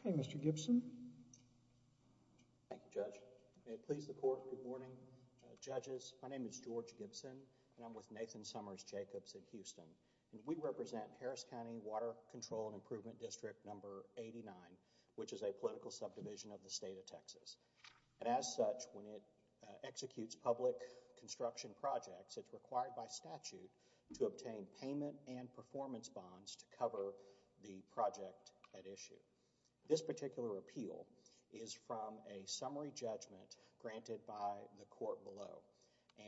Okay, Mr. Gibson. Thank you, Judge. May it please the Court. Good morning, Judges. My name is George Gibson, and I'm with Nathan Summers Jacobs in Houston. We represent Harris County Water Control and Improvement District No. 89, which is a political subdivision of the state of Texas. And as such, when it executes public construction projects, it's required by statute to obtain payment and performance bonds to cover the project at issue. This particular appeal is from a summary judgment granted by the Court below.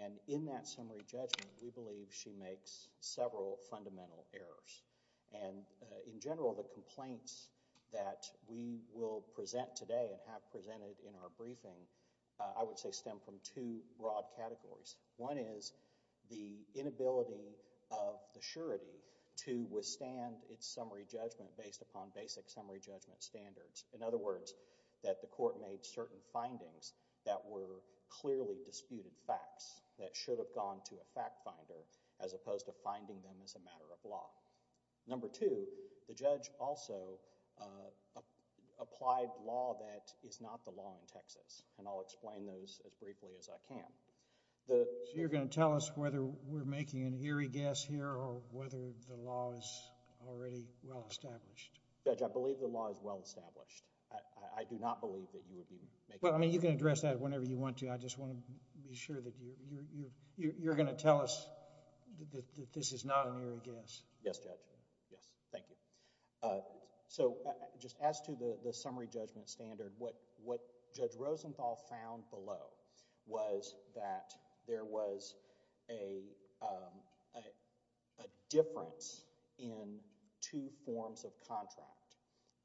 And in that summary judgment, we believe she makes several fundamental errors. And in general, the complaints that we will present today and have presented in our briefing, I would say, stem from two broad categories. One is the inability of the surety to withstand its summary judgment based upon basic summary judgment standards. In other words, that the Court made certain findings that were clearly disputed facts, that should have gone to a fact finder as opposed to finding them as a matter of law. Number two, the judge also applied law that is not the law in Texas, and I'll explain those as briefly as I can. So you're going to tell us whether we're making an eerie guess here or whether the law is already well established? Judge, I believe the law is well established. I do not believe that you would be making an eerie guess. Well, I mean, you can address that whenever you want to. I just want to be sure that you're going to tell us that this is not an eerie guess. Yes, Judge. Yes. Thank you. So, just as to the summary judgment standard, what Judge Rosenthal found below was that there was a difference in two forms of contract,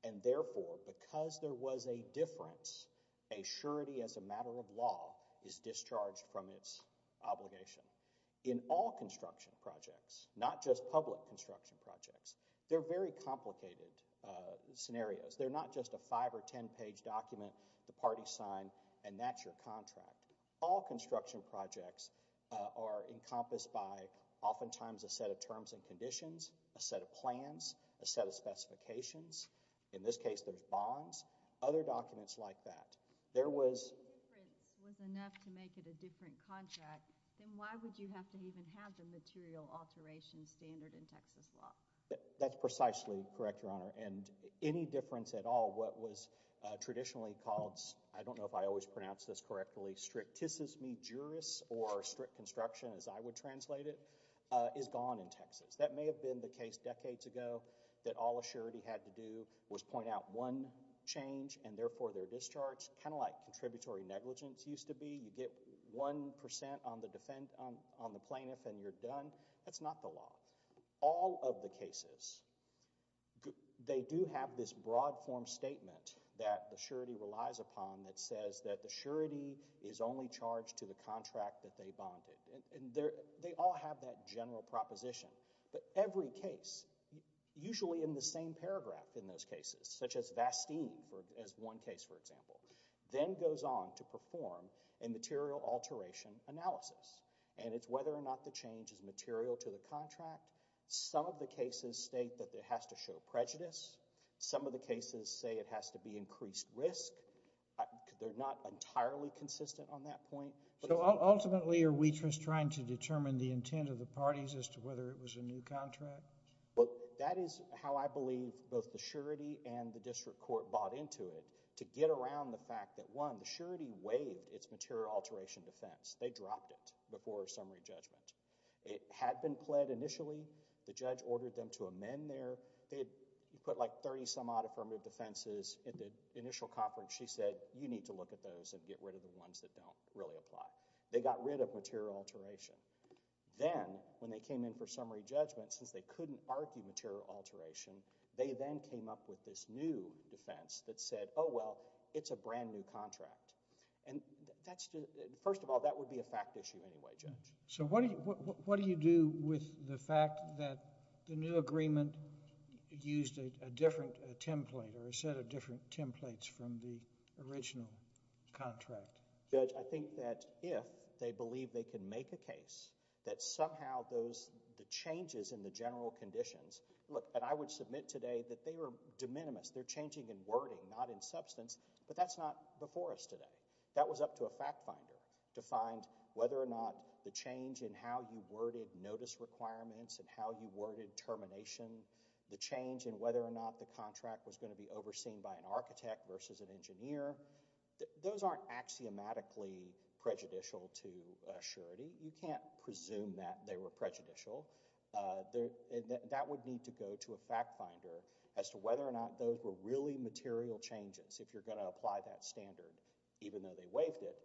and therefore, because there was a difference, a surety as a matter of law is discharged from its obligation. In all construction projects, not just public construction projects, they're very complicated scenarios. They're not just a five- or ten-page document the parties sign, and that's your contract. All construction projects are encompassed by oftentimes a set of terms and conditions, a set of plans, a set of specifications. In this case, there's bonds. Other documents like that. There was... If the difference was enough to make it a different contract, then why would you have to even have the material alteration standard in Texas law? That's precisely correct, Your Honor, and any difference at all, what was traditionally called, I don't know if I always pronounce this correctly, strictissimi juris, or strict construction as I would translate it, is gone in Texas. That may have been the case decades ago that all a surety had to do was point out one change, and therefore, they're discharged kind of like contributory negligence used to be. You get 1% on the plaintiff and you're not the law. All of the cases, they do have this broad form statement that the surety relies upon that says that the surety is only charged to the contract that they bonded. They all have that general proposition, but every case, usually in the same paragraph in those cases, such as Vasteen as one case, for example, then goes on to perform a material alteration analysis, and it's whether or not the change is material to the contract. Some of the cases state that it has to show prejudice. Some of the cases say it has to be increased risk. They're not entirely consistent on that point. Ultimately, are we just trying to determine the intent of the parties as to whether it was a new contract? That is how I believe both the surety and the district court bought into it to get around the fact that, one, the surety waived its material alteration defense. They dropped it before summary judgment. It had been pled initially. The judge ordered them to amend there. They had put like 30-some-odd affirmative defenses at the initial conference. She said, you need to look at those and get rid of the ones that don't really apply. They got rid of material alteration. Then, when they came in for summary judgment, since they couldn't argue material alteration, they then came up with this new defense that said, oh, well, it's a brand-new contract. First of all, that would be a fact issue anyway, Judge. What do you do with the fact that the new agreement used a different template or a set of different templates from the original contract? Judge, I think that if they believe they can make a case that somehow the changes in the contract meant today that they were de minimis. They're changing in wording, not in substance, but that's not before us today. That was up to a fact finder to find whether or not the change in how you worded notice requirements and how you worded termination, the change in whether or not the contract was going to be overseen by an architect versus an engineer. Those aren't axiomatically prejudicial to surety. You can't presume that they were prejudicial. That would need to go to a fact finder as to whether or not those were really material changes if you're going to apply that standard, even though they waived it.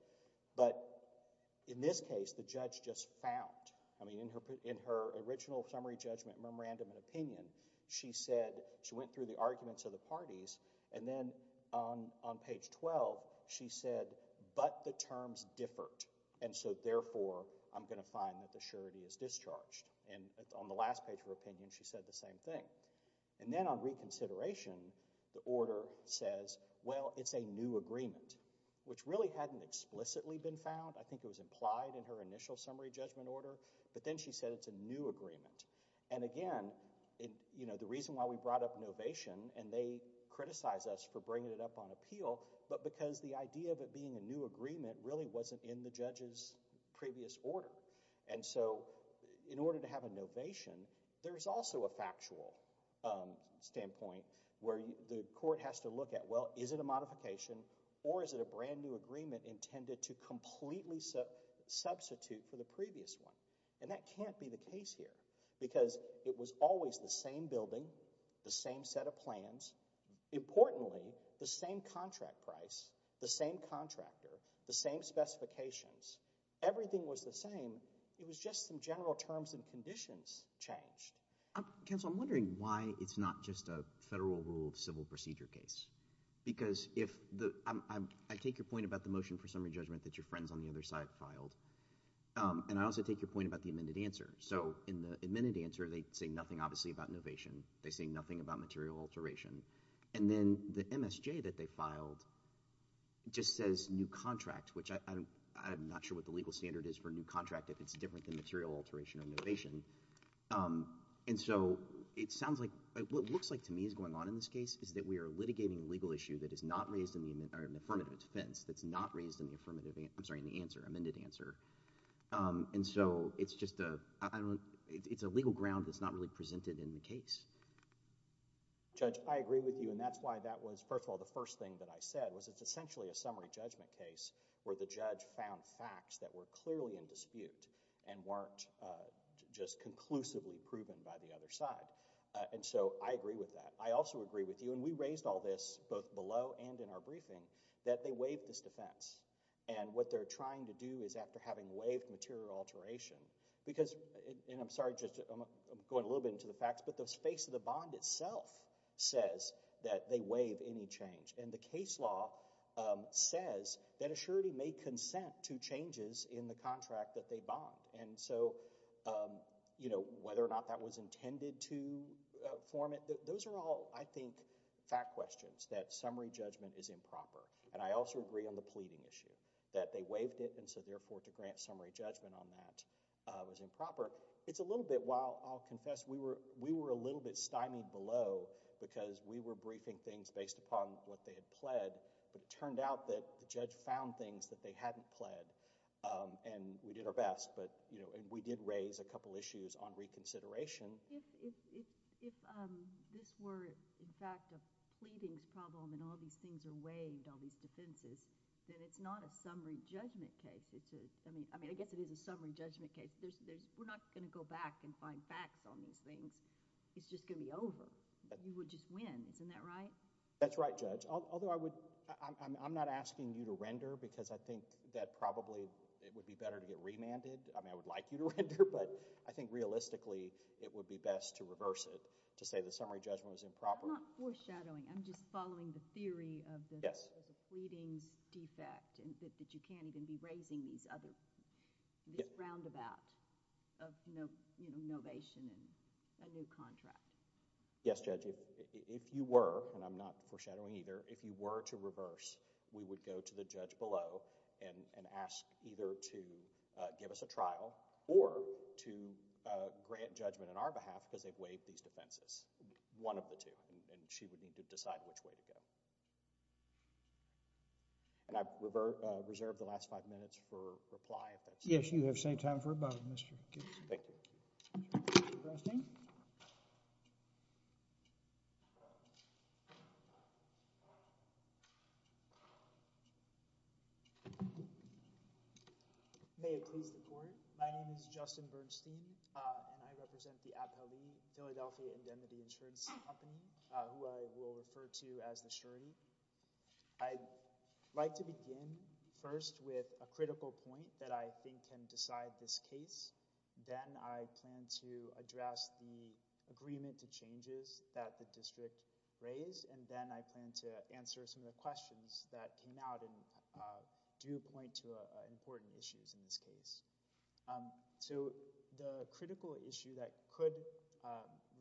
In this case, the judge just found. In her original summary judgment memorandum and opinion, she went through the arguments of the parties, and then on page 12, she said, but the terms differed, and so therefore, I'm going to find that the surety is discharged. On the last page of her opinion, she said the same thing. Then on reconsideration, the order says, well, it's a new agreement, which really hadn't explicitly been found. I think it was implied in her initial summary judgment order, but then she said it's a new agreement. Again, the reason why we brought up novation, and they criticized us for bringing it up on appeal, but because the idea of it being a new agreement really wasn't in the judge's previous order. In order to have a novation, there's also a factual standpoint where the court has to look at, well, is it a modification, or is it a brand new agreement intended to completely substitute for the previous one? That can't be the case here, because it was always the same building, the same set of plans. Importantly, the same contract price, the same contractor, the same specifications. Everything was the same. It was just some general terms and conditions changed. Counsel, I'm wondering why it's not just a federal rule of civil procedure case. I take your point about the motion for summary judgment that your friends on the other side filed, and I also take your point about the amended answer. In the amended answer, they say nothing obviously about novation. They say nothing about material alteration. And then the MSJ that they filed just says new contract, which I'm not sure what the legal standard is for new contract if it's different than material alteration or novation. And so it sounds like, what looks like to me is going on in this case is that we are litigating a legal issue that is not raised in the, or an affirmative defense, that's not raised in the affirmative, I'm sorry, in the answer, amended answer. And so it's just a, I don't, it's a legal ground that's not really presented in the case. Judge, I agree with you and that's why that was, first of all, the first thing that I said was it's essentially a summary judgment case where the judge found facts that were clearly in dispute and weren't just conclusively proven by the other side. And so I agree with that. I also agree with you, and we raised all this both below and in our briefing, that they waived this defense. And what they're trying to do is after having waived material alteration, because, and I'm sorry, Judge, I'm going a little bit into the facts, but the face of the bond itself says that they waive any change. And the case law says that a surety may consent to changes in the contract that they bond. And so, you know, whether or not that was intended to form it, those are all, I think, fact questions, that summary judgment is improper. And I also agree on the pleading issue, that they waived it and so, therefore, to grant summary judgment on that was improper. It's a little bit, while I'll confess, we were a little bit stymied below because we were briefing things based upon what they had pled, but it turned out that the judge found things that they hadn't pled. And we did our best, but, you know, and we did raise a couple issues on reconsideration. If this were, in fact, a pleadings problem and all these things are waived, all these things, it's a summary judgment case. I mean, I guess it is a summary judgment case. We're not going to go back and find facts on these things. It's just going to be over. You would just win. Isn't that right? That's right, Judge. Although I would, I'm not asking you to render because I think that probably it would be better to get remanded. I mean, I would like you to render, but I think realistically it would be best to reverse it to say the summary judgment was improper. I'm not foreshadowing. I'm just following the theory of the pleadings defect that you can't even be raising these other, this roundabout of, you know, novation and a new contract. Yes, Judge. If you were, and I'm not foreshadowing either, if you were to reverse, we would go to the judge below and ask either to give us a trial or to grant judgment on our behalf because they've waived these defenses, one of the two, and she would need to decide which way to go. And I've reserved the last five minutes for reply if that's all right. Yes, you have saved time for both, Mr. Gibson. Thank you. Mr. Bernstein? May it please the Court? My name is Justin Bernstein and I represent the Appellee Philadelphia Indemnity Insurance Company, who I will refer to as the surety. I'd like to begin first with a critical point that I think can decide this case. Then I plan to address the agreement to changes that the district raised, and then I plan to answer some of the questions that came out and do point to important issues in this case. So the critical issue that could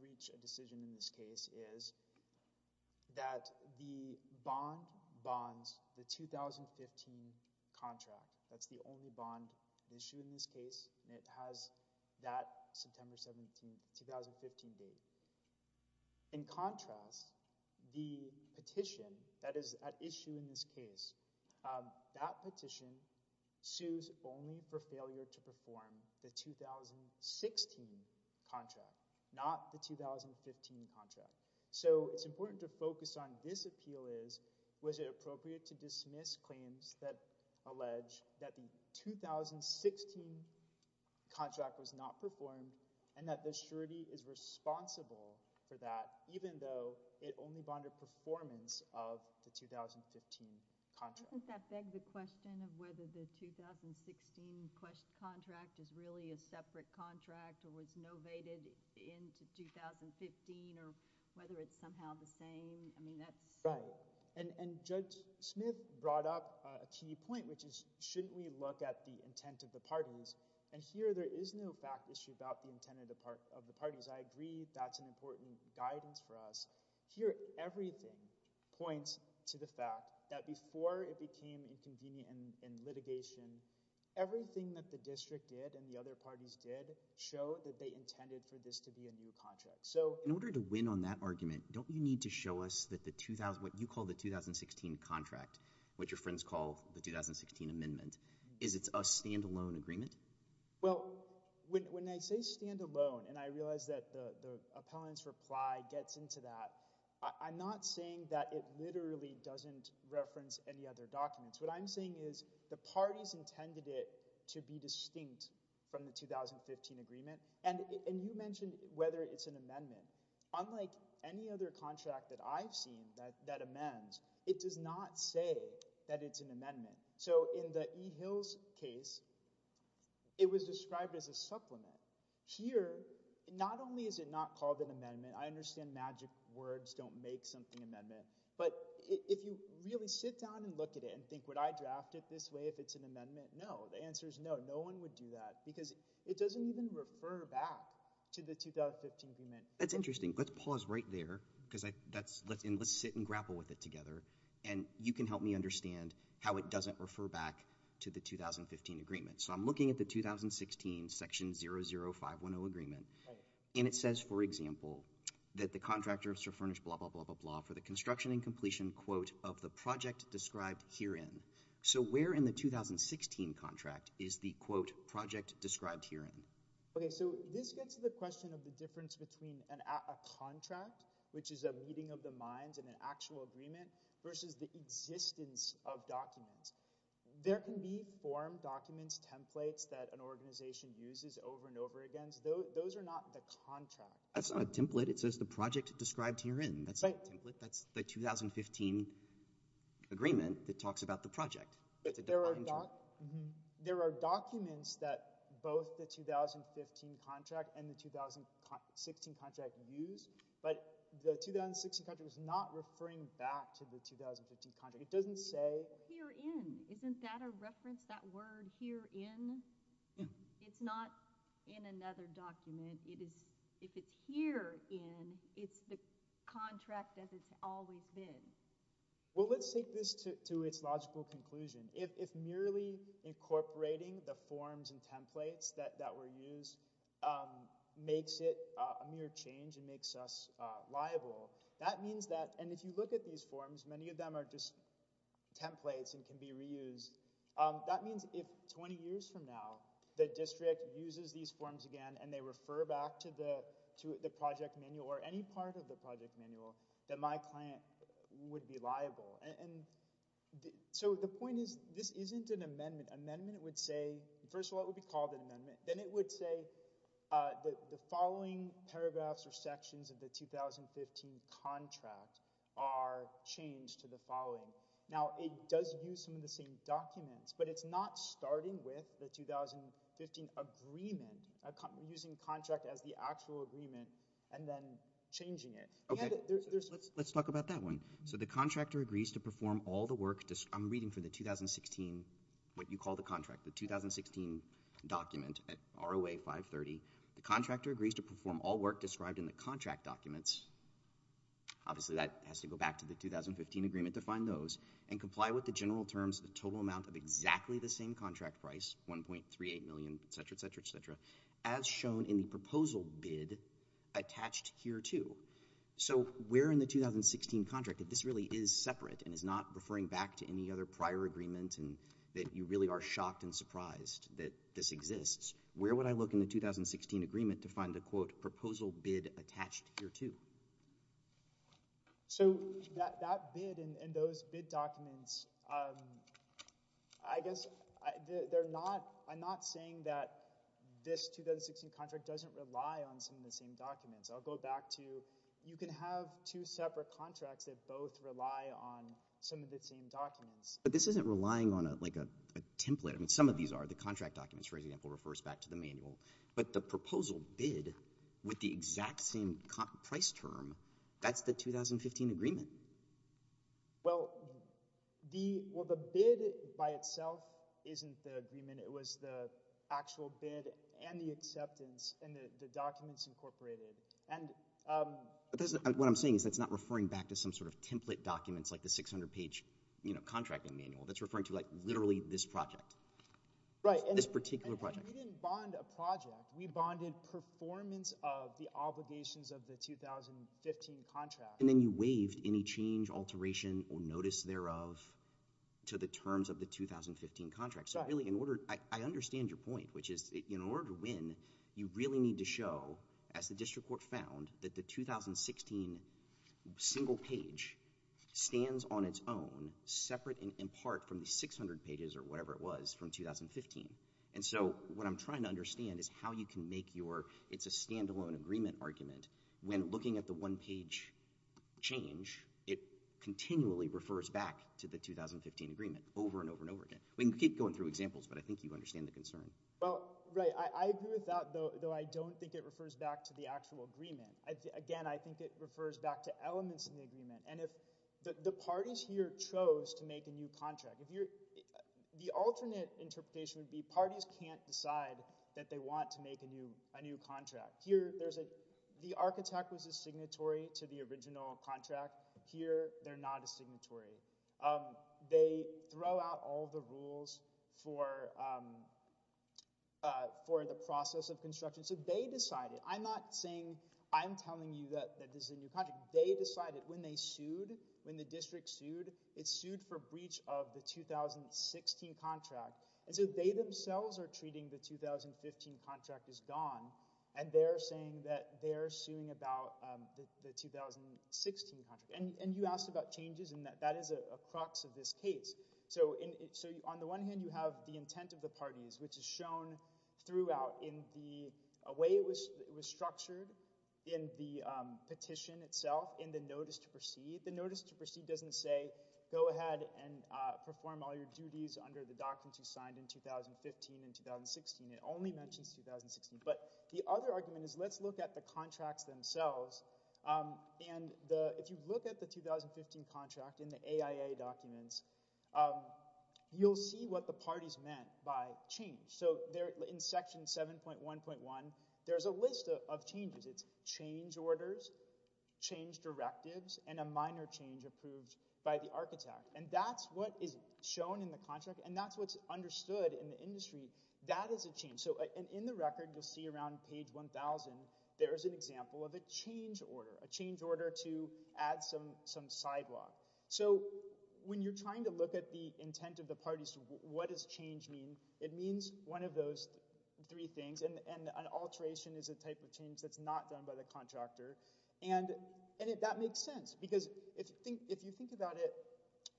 reach a decision in this case is that the bond bonds the 2015 contract. That's the only bond issue in this case, and it has that September 17, 2015 date. In contrast, the petition that is at issue in this case, that petition sues only for the 2016 contract, not the 2015 contract. So it's important to focus on this appeal is, was it appropriate to dismiss claims that allege that the 2016 contract was not performed, and that the surety is responsible for that, even though it only bonded performance of the separate contract or was novated into 2015, or whether it's somehow the same. I mean, that's... Right. And Judge Smith brought up a key point, which is, shouldn't we look at the intent of the parties? And here there is no fact issue about the intent of the parties. I agree that's an important guidance for us. Here everything points to the fact that before it became inconvenient in litigation, everything that the district did and the other parties did showed that they intended for this to be a new contract. So... In order to win on that argument, don't you need to show us what you call the 2016 contract, what your friends call the 2016 amendment? Is it a standalone agreement? Well, when I say standalone, and I realize that the appellant's reply gets into that, I'm not saying that it literally doesn't reference any other documents. What I'm saying is the parties intended it to be distinct from the 2015 agreement. And you mentioned whether it's an amendment. Unlike any other contract that I've seen that amends, it does not say that it's an amendment. So in the E. Hills case, it was described as a supplement. Here, not only is it not called an amendment, I understand magic words don't make something if it's an amendment. No. The answer is no. No one would do that. Because it doesn't even refer back to the 2015 agreement. That's interesting. Let's pause right there, because... Let's sit and grapple with it together, and you can help me understand how it doesn't refer back to the 2015 agreement. So I'm looking at the 2016 section 00510 agreement, and it says, for example, that the contractor Mr. Furnish blah blah blah blah blah for the construction and completion quote of the project described herein. So where in the 2016 contract is the quote project described herein? Okay, so this gets to the question of the difference between a contract, which is a meeting of the minds and an actual agreement, versus the existence of documents. There can be form documents, templates that an organization uses over and over again. Those are not the contract. That's not a template. It says the project described herein. That's not a template. That's the 2015 agreement that talks about the project. There are documents that both the 2015 contract and the 2016 contract use, but the 2016 contract is not referring back to the 2015 contract. It doesn't say... Herein. Isn't that a reference, that word herein? It's not in another document. If it's herein, it's the contract that it's always been. Well, let's take this to its logical conclusion. If merely incorporating the forms and templates that were used makes it a mere change and makes us liable, that means that... And if you look at these forms, many of them are just templates and can be reused. That means if 20 years from now the district uses these forms again and they refer back to the project manual or any part of the project manual, that my client would be liable. The point is, this isn't an amendment. Amendment would say... First of all, it would be called an amendment. Then it would say the following paragraphs or sections of the 2015 contract are changed to the following. Now, it does use some of the same documents, but it's not starting with the 2015 agreement, using contract as the actual agreement, and then changing it. Okay. Let's talk about that one. The contractor agrees to perform all the work... I'm reading for the 2016, what you call the contract, the 2016 document, ROA 530. The contractor agrees to perform all work described in the contract documents. Obviously, that has to go back to the 2015 agreement to find those, and comply with the general terms of the total amount of exactly the same contract price, 1.38 million, et cetera, et cetera, et cetera, as shown in the proposal bid attached here, too. So, where in the 2016 contract, if this really is separate and is not referring back to any other prior agreement and that you really are shocked and surprised that this exists, where would I look in the 2016 agreement to find the, quote, proposal bid attached here, too? So, that bid and those bid documents, I guess, I'm not saying that this 2016 contract doesn't rely on some of the same documents. I'll go back to, you can have two separate contracts that both rely on some of the same documents. But this isn't relying on, like, a template. I mean, some of these are. The contract documents, for example, refers back to the manual, but the proposal bid with the exact same price term, that's the 2015 agreement. Well, the bid, by itself, isn't the agreement. It was the actual bid and the acceptance, and the documents incorporated. What I'm saying is that's not referring back to some sort of template documents, like the 600-page, you know, contracting manual. That's referring to, like, literally this project. This particular project. And we didn't bond a project. We bonded performance of the obligations of the 2015 contract. And then you waived any change, alteration, or notice thereof to the terms of the 2015 contract. So, really, in order, I understand your point, which is, in order to win, you really need to show, as the district court found, that the 2016 single page stands on its own, separate in part from the 600 pages, or whatever it was, from 2015. And so what I'm trying to understand is how you can make your, it's a standalone agreement argument, when looking at the one-page change, it continually refers back to the 2015 agreement, over and over and over again. We can keep going through examples, but I think you understand the concern. Well, right, I agree with that, though I don't think it refers back to the actual agreement. Again, I think it refers to the fact that if you're, if you're chosen to make a new contract, if you're, the alternate interpretation would be parties can't decide that they want to make a new, a new contract. Here, there's a, the architect was a signatory to the original contract. Here, they're not a signatory. They throw out all the rules for, for the process of construction. So they decided, I'm not saying, I'm telling you that this is a new contract. They decided when they sued, when the district sued, it sued for breach of the 2016 contract. And so they themselves are treating the 2015 contract as gone. And they're saying that they're suing about the 2016 contract. And, and you asked about changes and that, that is a crux of this case. So in, so on the one hand, you have the intent of the parties, which is shown throughout in the way it was, it was structured in the petition itself, in the notice to proceed. The notice to proceed doesn't say, go ahead and perform all your duties under the documents you signed in 2015 and 2016. It only mentions 2016. But the other argument is, let's look at the contracts themselves. And the, if you look at the 2015 contract in the AIA documents, you'll see what the parties meant by change. So there in section 7.1.1, there's a list of changes. It's change orders, change directives, and a minor change approved by the architect. And that's what is shown in the contract. And that's what's understood in the industry. That is a change. So in the record, you'll see around page 1,000, there is an example of a change order, a change order to add some, some sidewalk. So when you're trying to look at the intent of the parties, what does change mean? It means one of those three things. And an alteration is a type of change that's not done by the contractor. And that makes sense. Because if you think about it,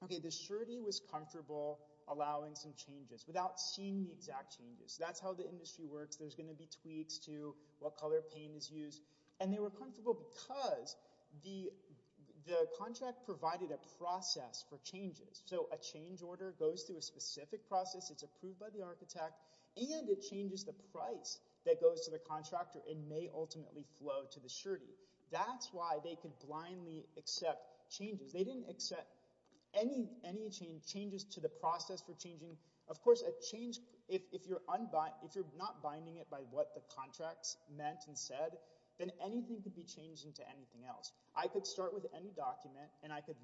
okay, the surety was comfortable allowing some changes without seeing the exact changes. That's how the industry works. There's going to be tweaks to what color paint is used. And they were comfortable because the contract provided a process for changes. So a change order goes through a specific process. It's approved by the architect. And it changes the price that goes to the contractor. It may ultimately flow to the surety. That's why they could blindly accept changes. They didn't accept any, any change, changes to the process for changing. Of course, a change, if, if you're unbind, if you're not binding it by what the contracts meant and said, then anything could be changed into anything else. I could start with any document and I could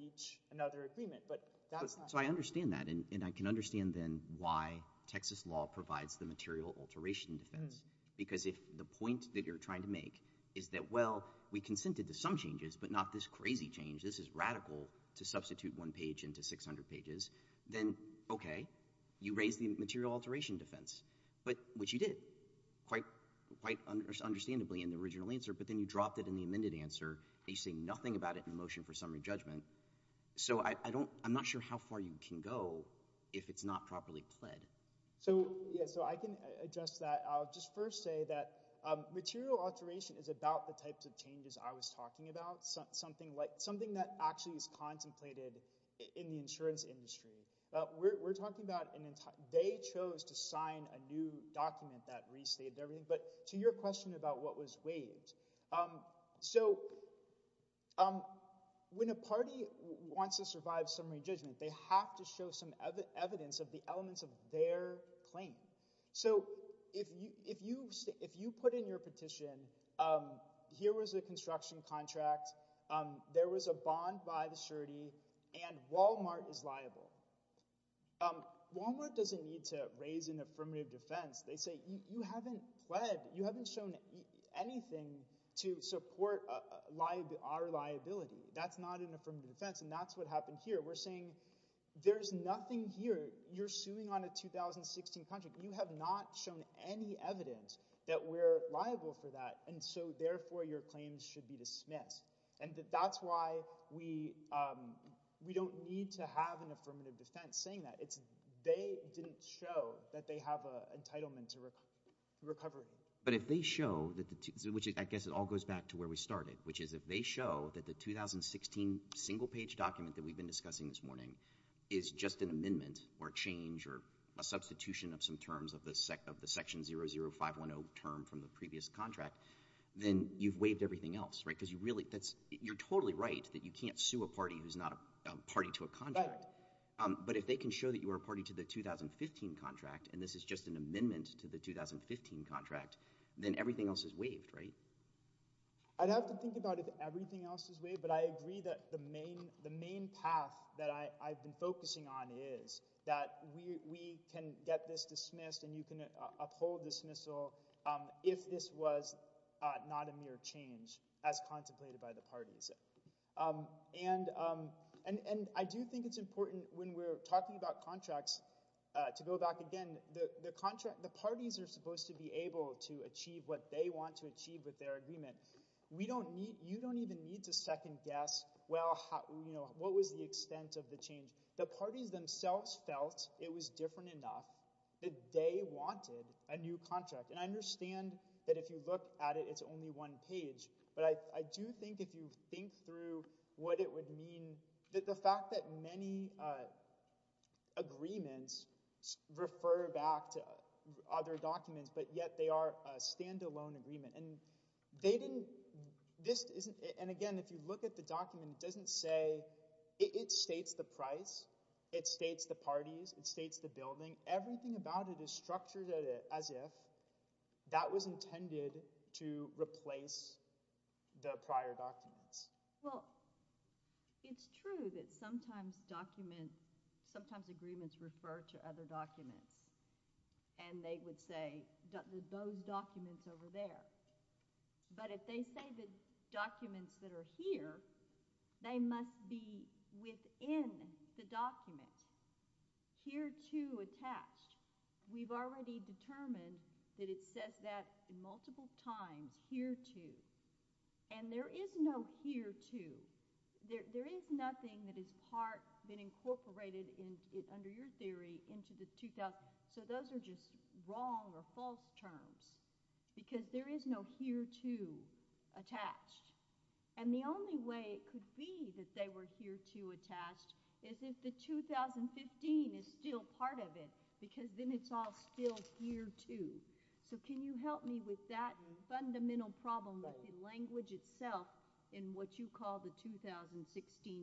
reach another agreement, but that's not. So I understand that. And I can understand then why Texas law provides the material alteration defense. Because if the point that you're trying to make is that, well, we consented to some changes, but not this crazy change. This is radical to substitute one page into 600 pages. Then, okay, you raise the material alteration defense, but which you did quite, quite understandably in the original answer. But then you dropped it in the amended answer and you say nothing about it in motion for summary judgment. So I don't, I'm not sure how far you can go if it's not properly pled. So, yeah, so I can address that. I'll just first say that material alteration is about the types of changes I was talking about. Something like, something that actually is contemplated in the insurance industry. We're talking about an entire, they chose to sign a new document that restated everything. But to your about what was waived. So when a party wants to survive summary judgment, they have to show some evidence of the elements of their claim. So if you put in your petition, here was a construction contract. There was a bond by the surety and Walmart is liable. Walmart doesn't need to raise affirmative defense. They say you haven't pled, you haven't shown anything to support our liability. That's not an affirmative defense. And that's what happened here. We're saying there's nothing here. You're suing on a 2016 contract. You have not shown any evidence that we're liable for that. And so therefore your claims should be dismissed. And that's why we, we don't need to have an affirmative defense saying that. It's, they didn't show that they have a entitlement to recovery. But if they show that the two, which I guess it all goes back to where we started, which is if they show that the 2016 single page document that we've been discussing this morning is just an amendment or change or a substitution of some terms of the section 00510 term from the previous contract, then you've waived everything else, right? Because you're totally right that you can't sue a party who's not a party to a contract. But if they can show that you are a party to the 2015 contract, and this is just an amendment to the 2015 contract, then everything else is waived, right? I'd have to think about if everything else is waived, but I agree that the main path that I've been focusing on is that we can get this dismissed and you can uphold dismissal if this was not a mere change as contemplated by the parties. And, and, and I do think it's important when we're talking about contracts to go back again, the, the contract, the parties are supposed to be able to achieve what they want to achieve with their agreement. We don't need, you don't even need to second guess, well, you know, what was the extent of the change. The parties themselves felt it was different enough that they wanted a new contract. And I understand that if you look at it, it's only one page, but I do think if you think through what it would mean that the fact that many agreements refer back to other documents, but yet they are a standalone agreement and they didn't, this isn't, and again, if you look at the it states the price, it states the parties, it states the building, everything about it is structured as if that was intended to replace the prior documents. Well, it's true that sometimes document, sometimes agreements refer to other documents and they would say those documents over there. But if they say the documents that are here, they must be within the document. Here too attached. We've already determined that it says that in multiple times, here too. And there is no here too. There, there is nothing that is part, been incorporated in it under your terms because there is no here too attached. And the only way it could be that they were here too attached is if the 2015 is still part of it because then it's all still here too. So can you help me with that fundamental problem with the language itself in what you call the 2016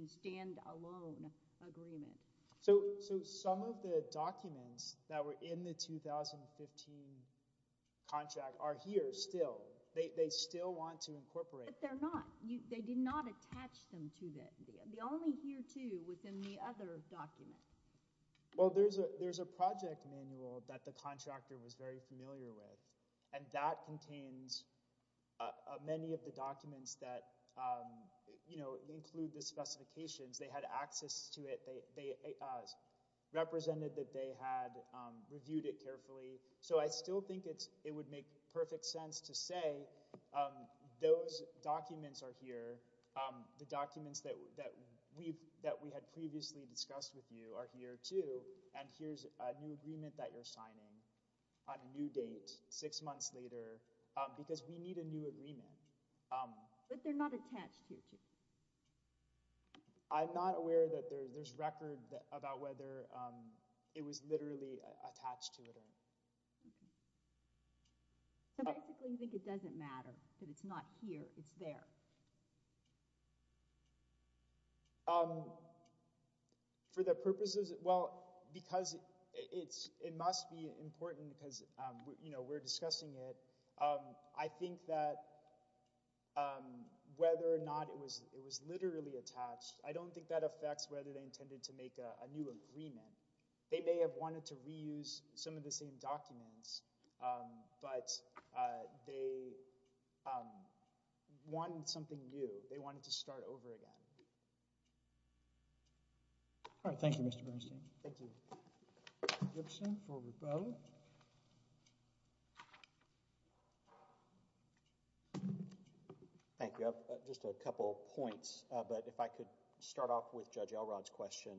stand agreement? So, so some of the documents that were in the 2015 contract are here still, they, they still want to incorporate. But they're not, they did not attach them to the, the only here too within the other document. Well, there's a, there's a project manual that the contractor was very familiar with and that contains many of the documents that, you know, include the access to it. They, they represented that they had reviewed it carefully. So I still think it's, it would make perfect sense to say those documents are here. The documents that we've, that we had previously discussed with you are here too. And here's a new agreement that you're signing on a new date, six months later because we need a new agreement. But they're not attached here too. I'm not aware that there's record about whether it was literally attached to it. So basically you think it doesn't matter that it's not here, it's there. For the purposes, well, because it's, it must be important because, you know, we're discussing it. I think that whether or not it was, it was literally attached, I don't think that affects whether they intended to make a new agreement. They may have wanted to reuse some of the same documents, but they wanted something new. They wanted to start over again. All right. Thank you, Mr. Bernstein. Thank you. Gibson, forward bow. Thank you. Just a couple points, but if I could start off with Judge Elrod's question,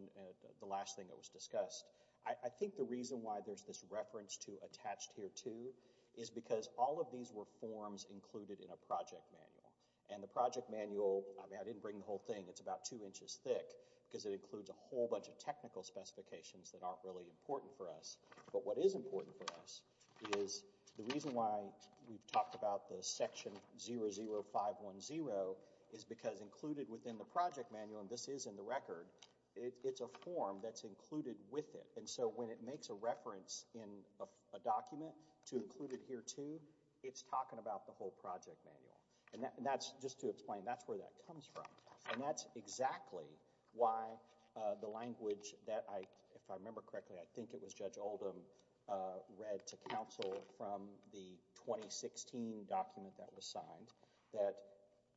the last thing that was discussed. I think the reason why there's this reference to attached here too is because all of these were forms included in a project manual. And the project manual, I mean I didn't bring the whole thing, it's about two inches thick because it includes a whole bunch of technical specifications that aren't really important for us. But what is important for us is the reason why we've talked about the section 00510 is because included within the project manual, and this is in the record, it's a form that's included with it. And so when it makes a reference in a document to include it here too, it's talking about the whole project manual. And that's, just to explain, that's where that comes from. And that's exactly why the language that I, if I remember correctly, I think it was Judge Oldham, read to counsel from the 2016 document that was signed that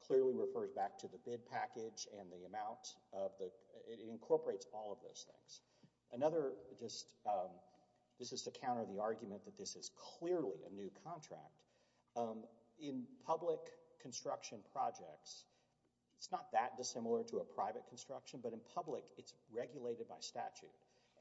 clearly refers back to the bid package and the amount of the, it incorporates all of those things. Another, just, this is to counter the argument that this is clearly a new contract. In public construction projects, it's not that dissimilar to a private construction, but in public it's regulated by statute.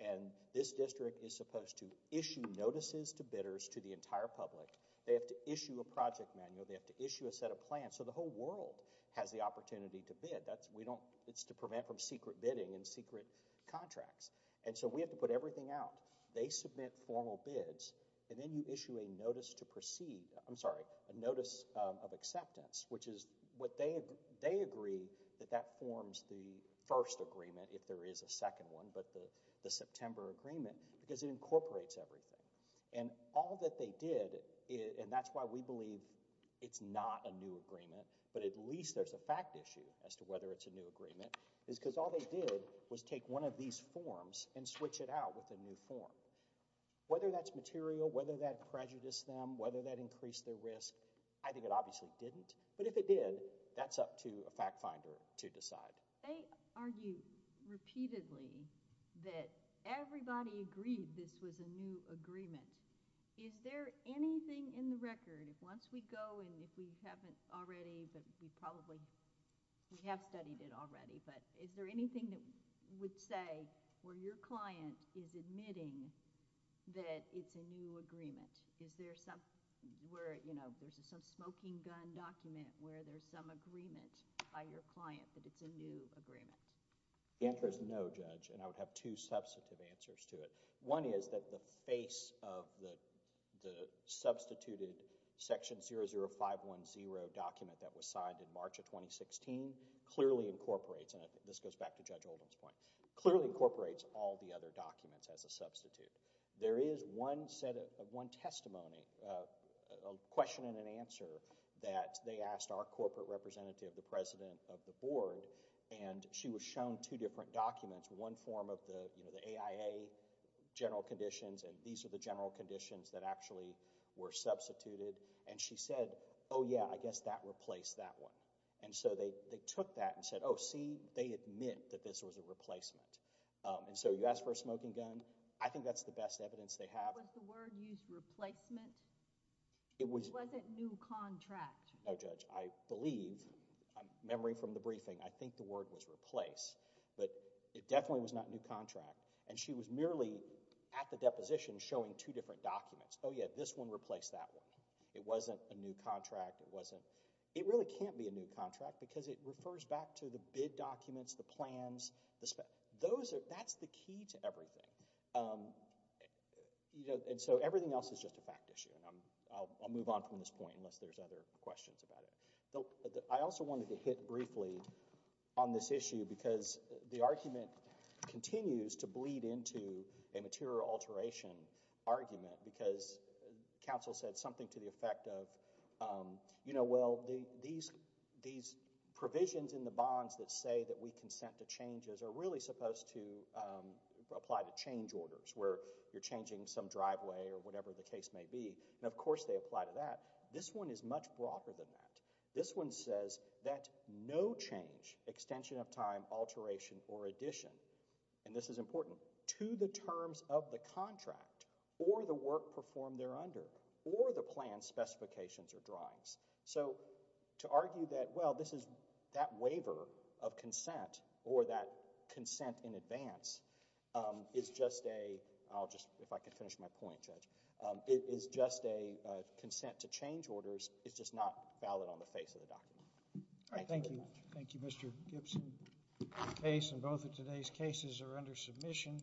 And this district is supposed to issue notices to bidders to the entire public. They have to issue a project manual. They have to issue a set of plans. So the whole world has the opportunity to bid. That's, we don't, it's to prevent from secret bidding and secret contracts. And so we have to put everything out. They submit formal bids, and then you issue a notice to proceed, I'm sorry, a notice of acceptance, which is what they, they agree that that forms the first agreement, if there is a second one, but the September agreement, because it incorporates everything. And all that they did, and that's why we believe it's not a new agreement, but at least there's a fact issue as to whether it's a new agreement, is because all they did was take one of these forms and switch it out with a new form. Whether that's material, whether that prejudiced them, whether that obviously didn't. But if it did, that's up to a fact finder to decide. They argue repeatedly that everybody agreed this was a new agreement. Is there anything in the record, if once we go, and if we haven't already, but we probably, we have studied it already, but is there anything that would say where your client is admitting that it's a new agreement? Is there some, where, you know, there's some smoking gun document where there's some agreement by your client that it's a new agreement? The answer is no, Judge, and I would have two substantive answers to it. One is that the face of the, the substituted Section 00510 document that was signed in March of 2016 clearly incorporates, and this goes back to Judge Holden's point, clearly incorporates all the other documents as a substitute. There is one set of, one testimony, a question and an answer that they asked our corporate representative, the President of the Board, and she was shown two different documents, one form of the, you know, the AIA general conditions, and these are the general conditions that actually were substituted, and she said, oh yeah, I guess that replaced that one. And so they, they took that and said, oh see, they admit that this was a replacement. And so you ask for a smoking gun, I think that's the evidence they have. Was the word used replacement? It wasn't new contract? No, Judge, I believe, memory from the briefing, I think the word was replace, but it definitely was not new contract, and she was merely at the deposition showing two different documents. Oh yeah, this one replaced that one. It wasn't a new contract, it wasn't, it really can't be a new contract because it refers back to the bid documents, the plans, the, those are, that's the key to everything. You know, and so everything else is just a fact issue, and I'm, I'll move on from this point unless there's other questions about it. I also wanted to hit briefly on this issue because the argument continues to bleed into a material alteration argument because counsel said something to the effect of, you know, well, these, these provisions in the bonds that say that we consent to changes are really supposed to apply to change orders where you're changing some driveway or whatever the case may be, and of course they apply to that. This one is much broader than that. This one says that no change, extension of time, alteration, or addition, and this is important, to the terms of the contract or the work performed there under, or the plan specifications or drawings. So to argue that, well, this is, that waiver of consent or that consent in advance is just a, I'll just, if I could finish my point, Judge, it is just a consent to change orders, it's just not valid on the face of the document. Thank you. Thank you, Mr. Gibson. The case and both of today's cases are under submission.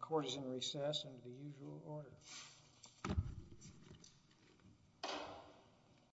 Court is in recess under the usual order. Thank you.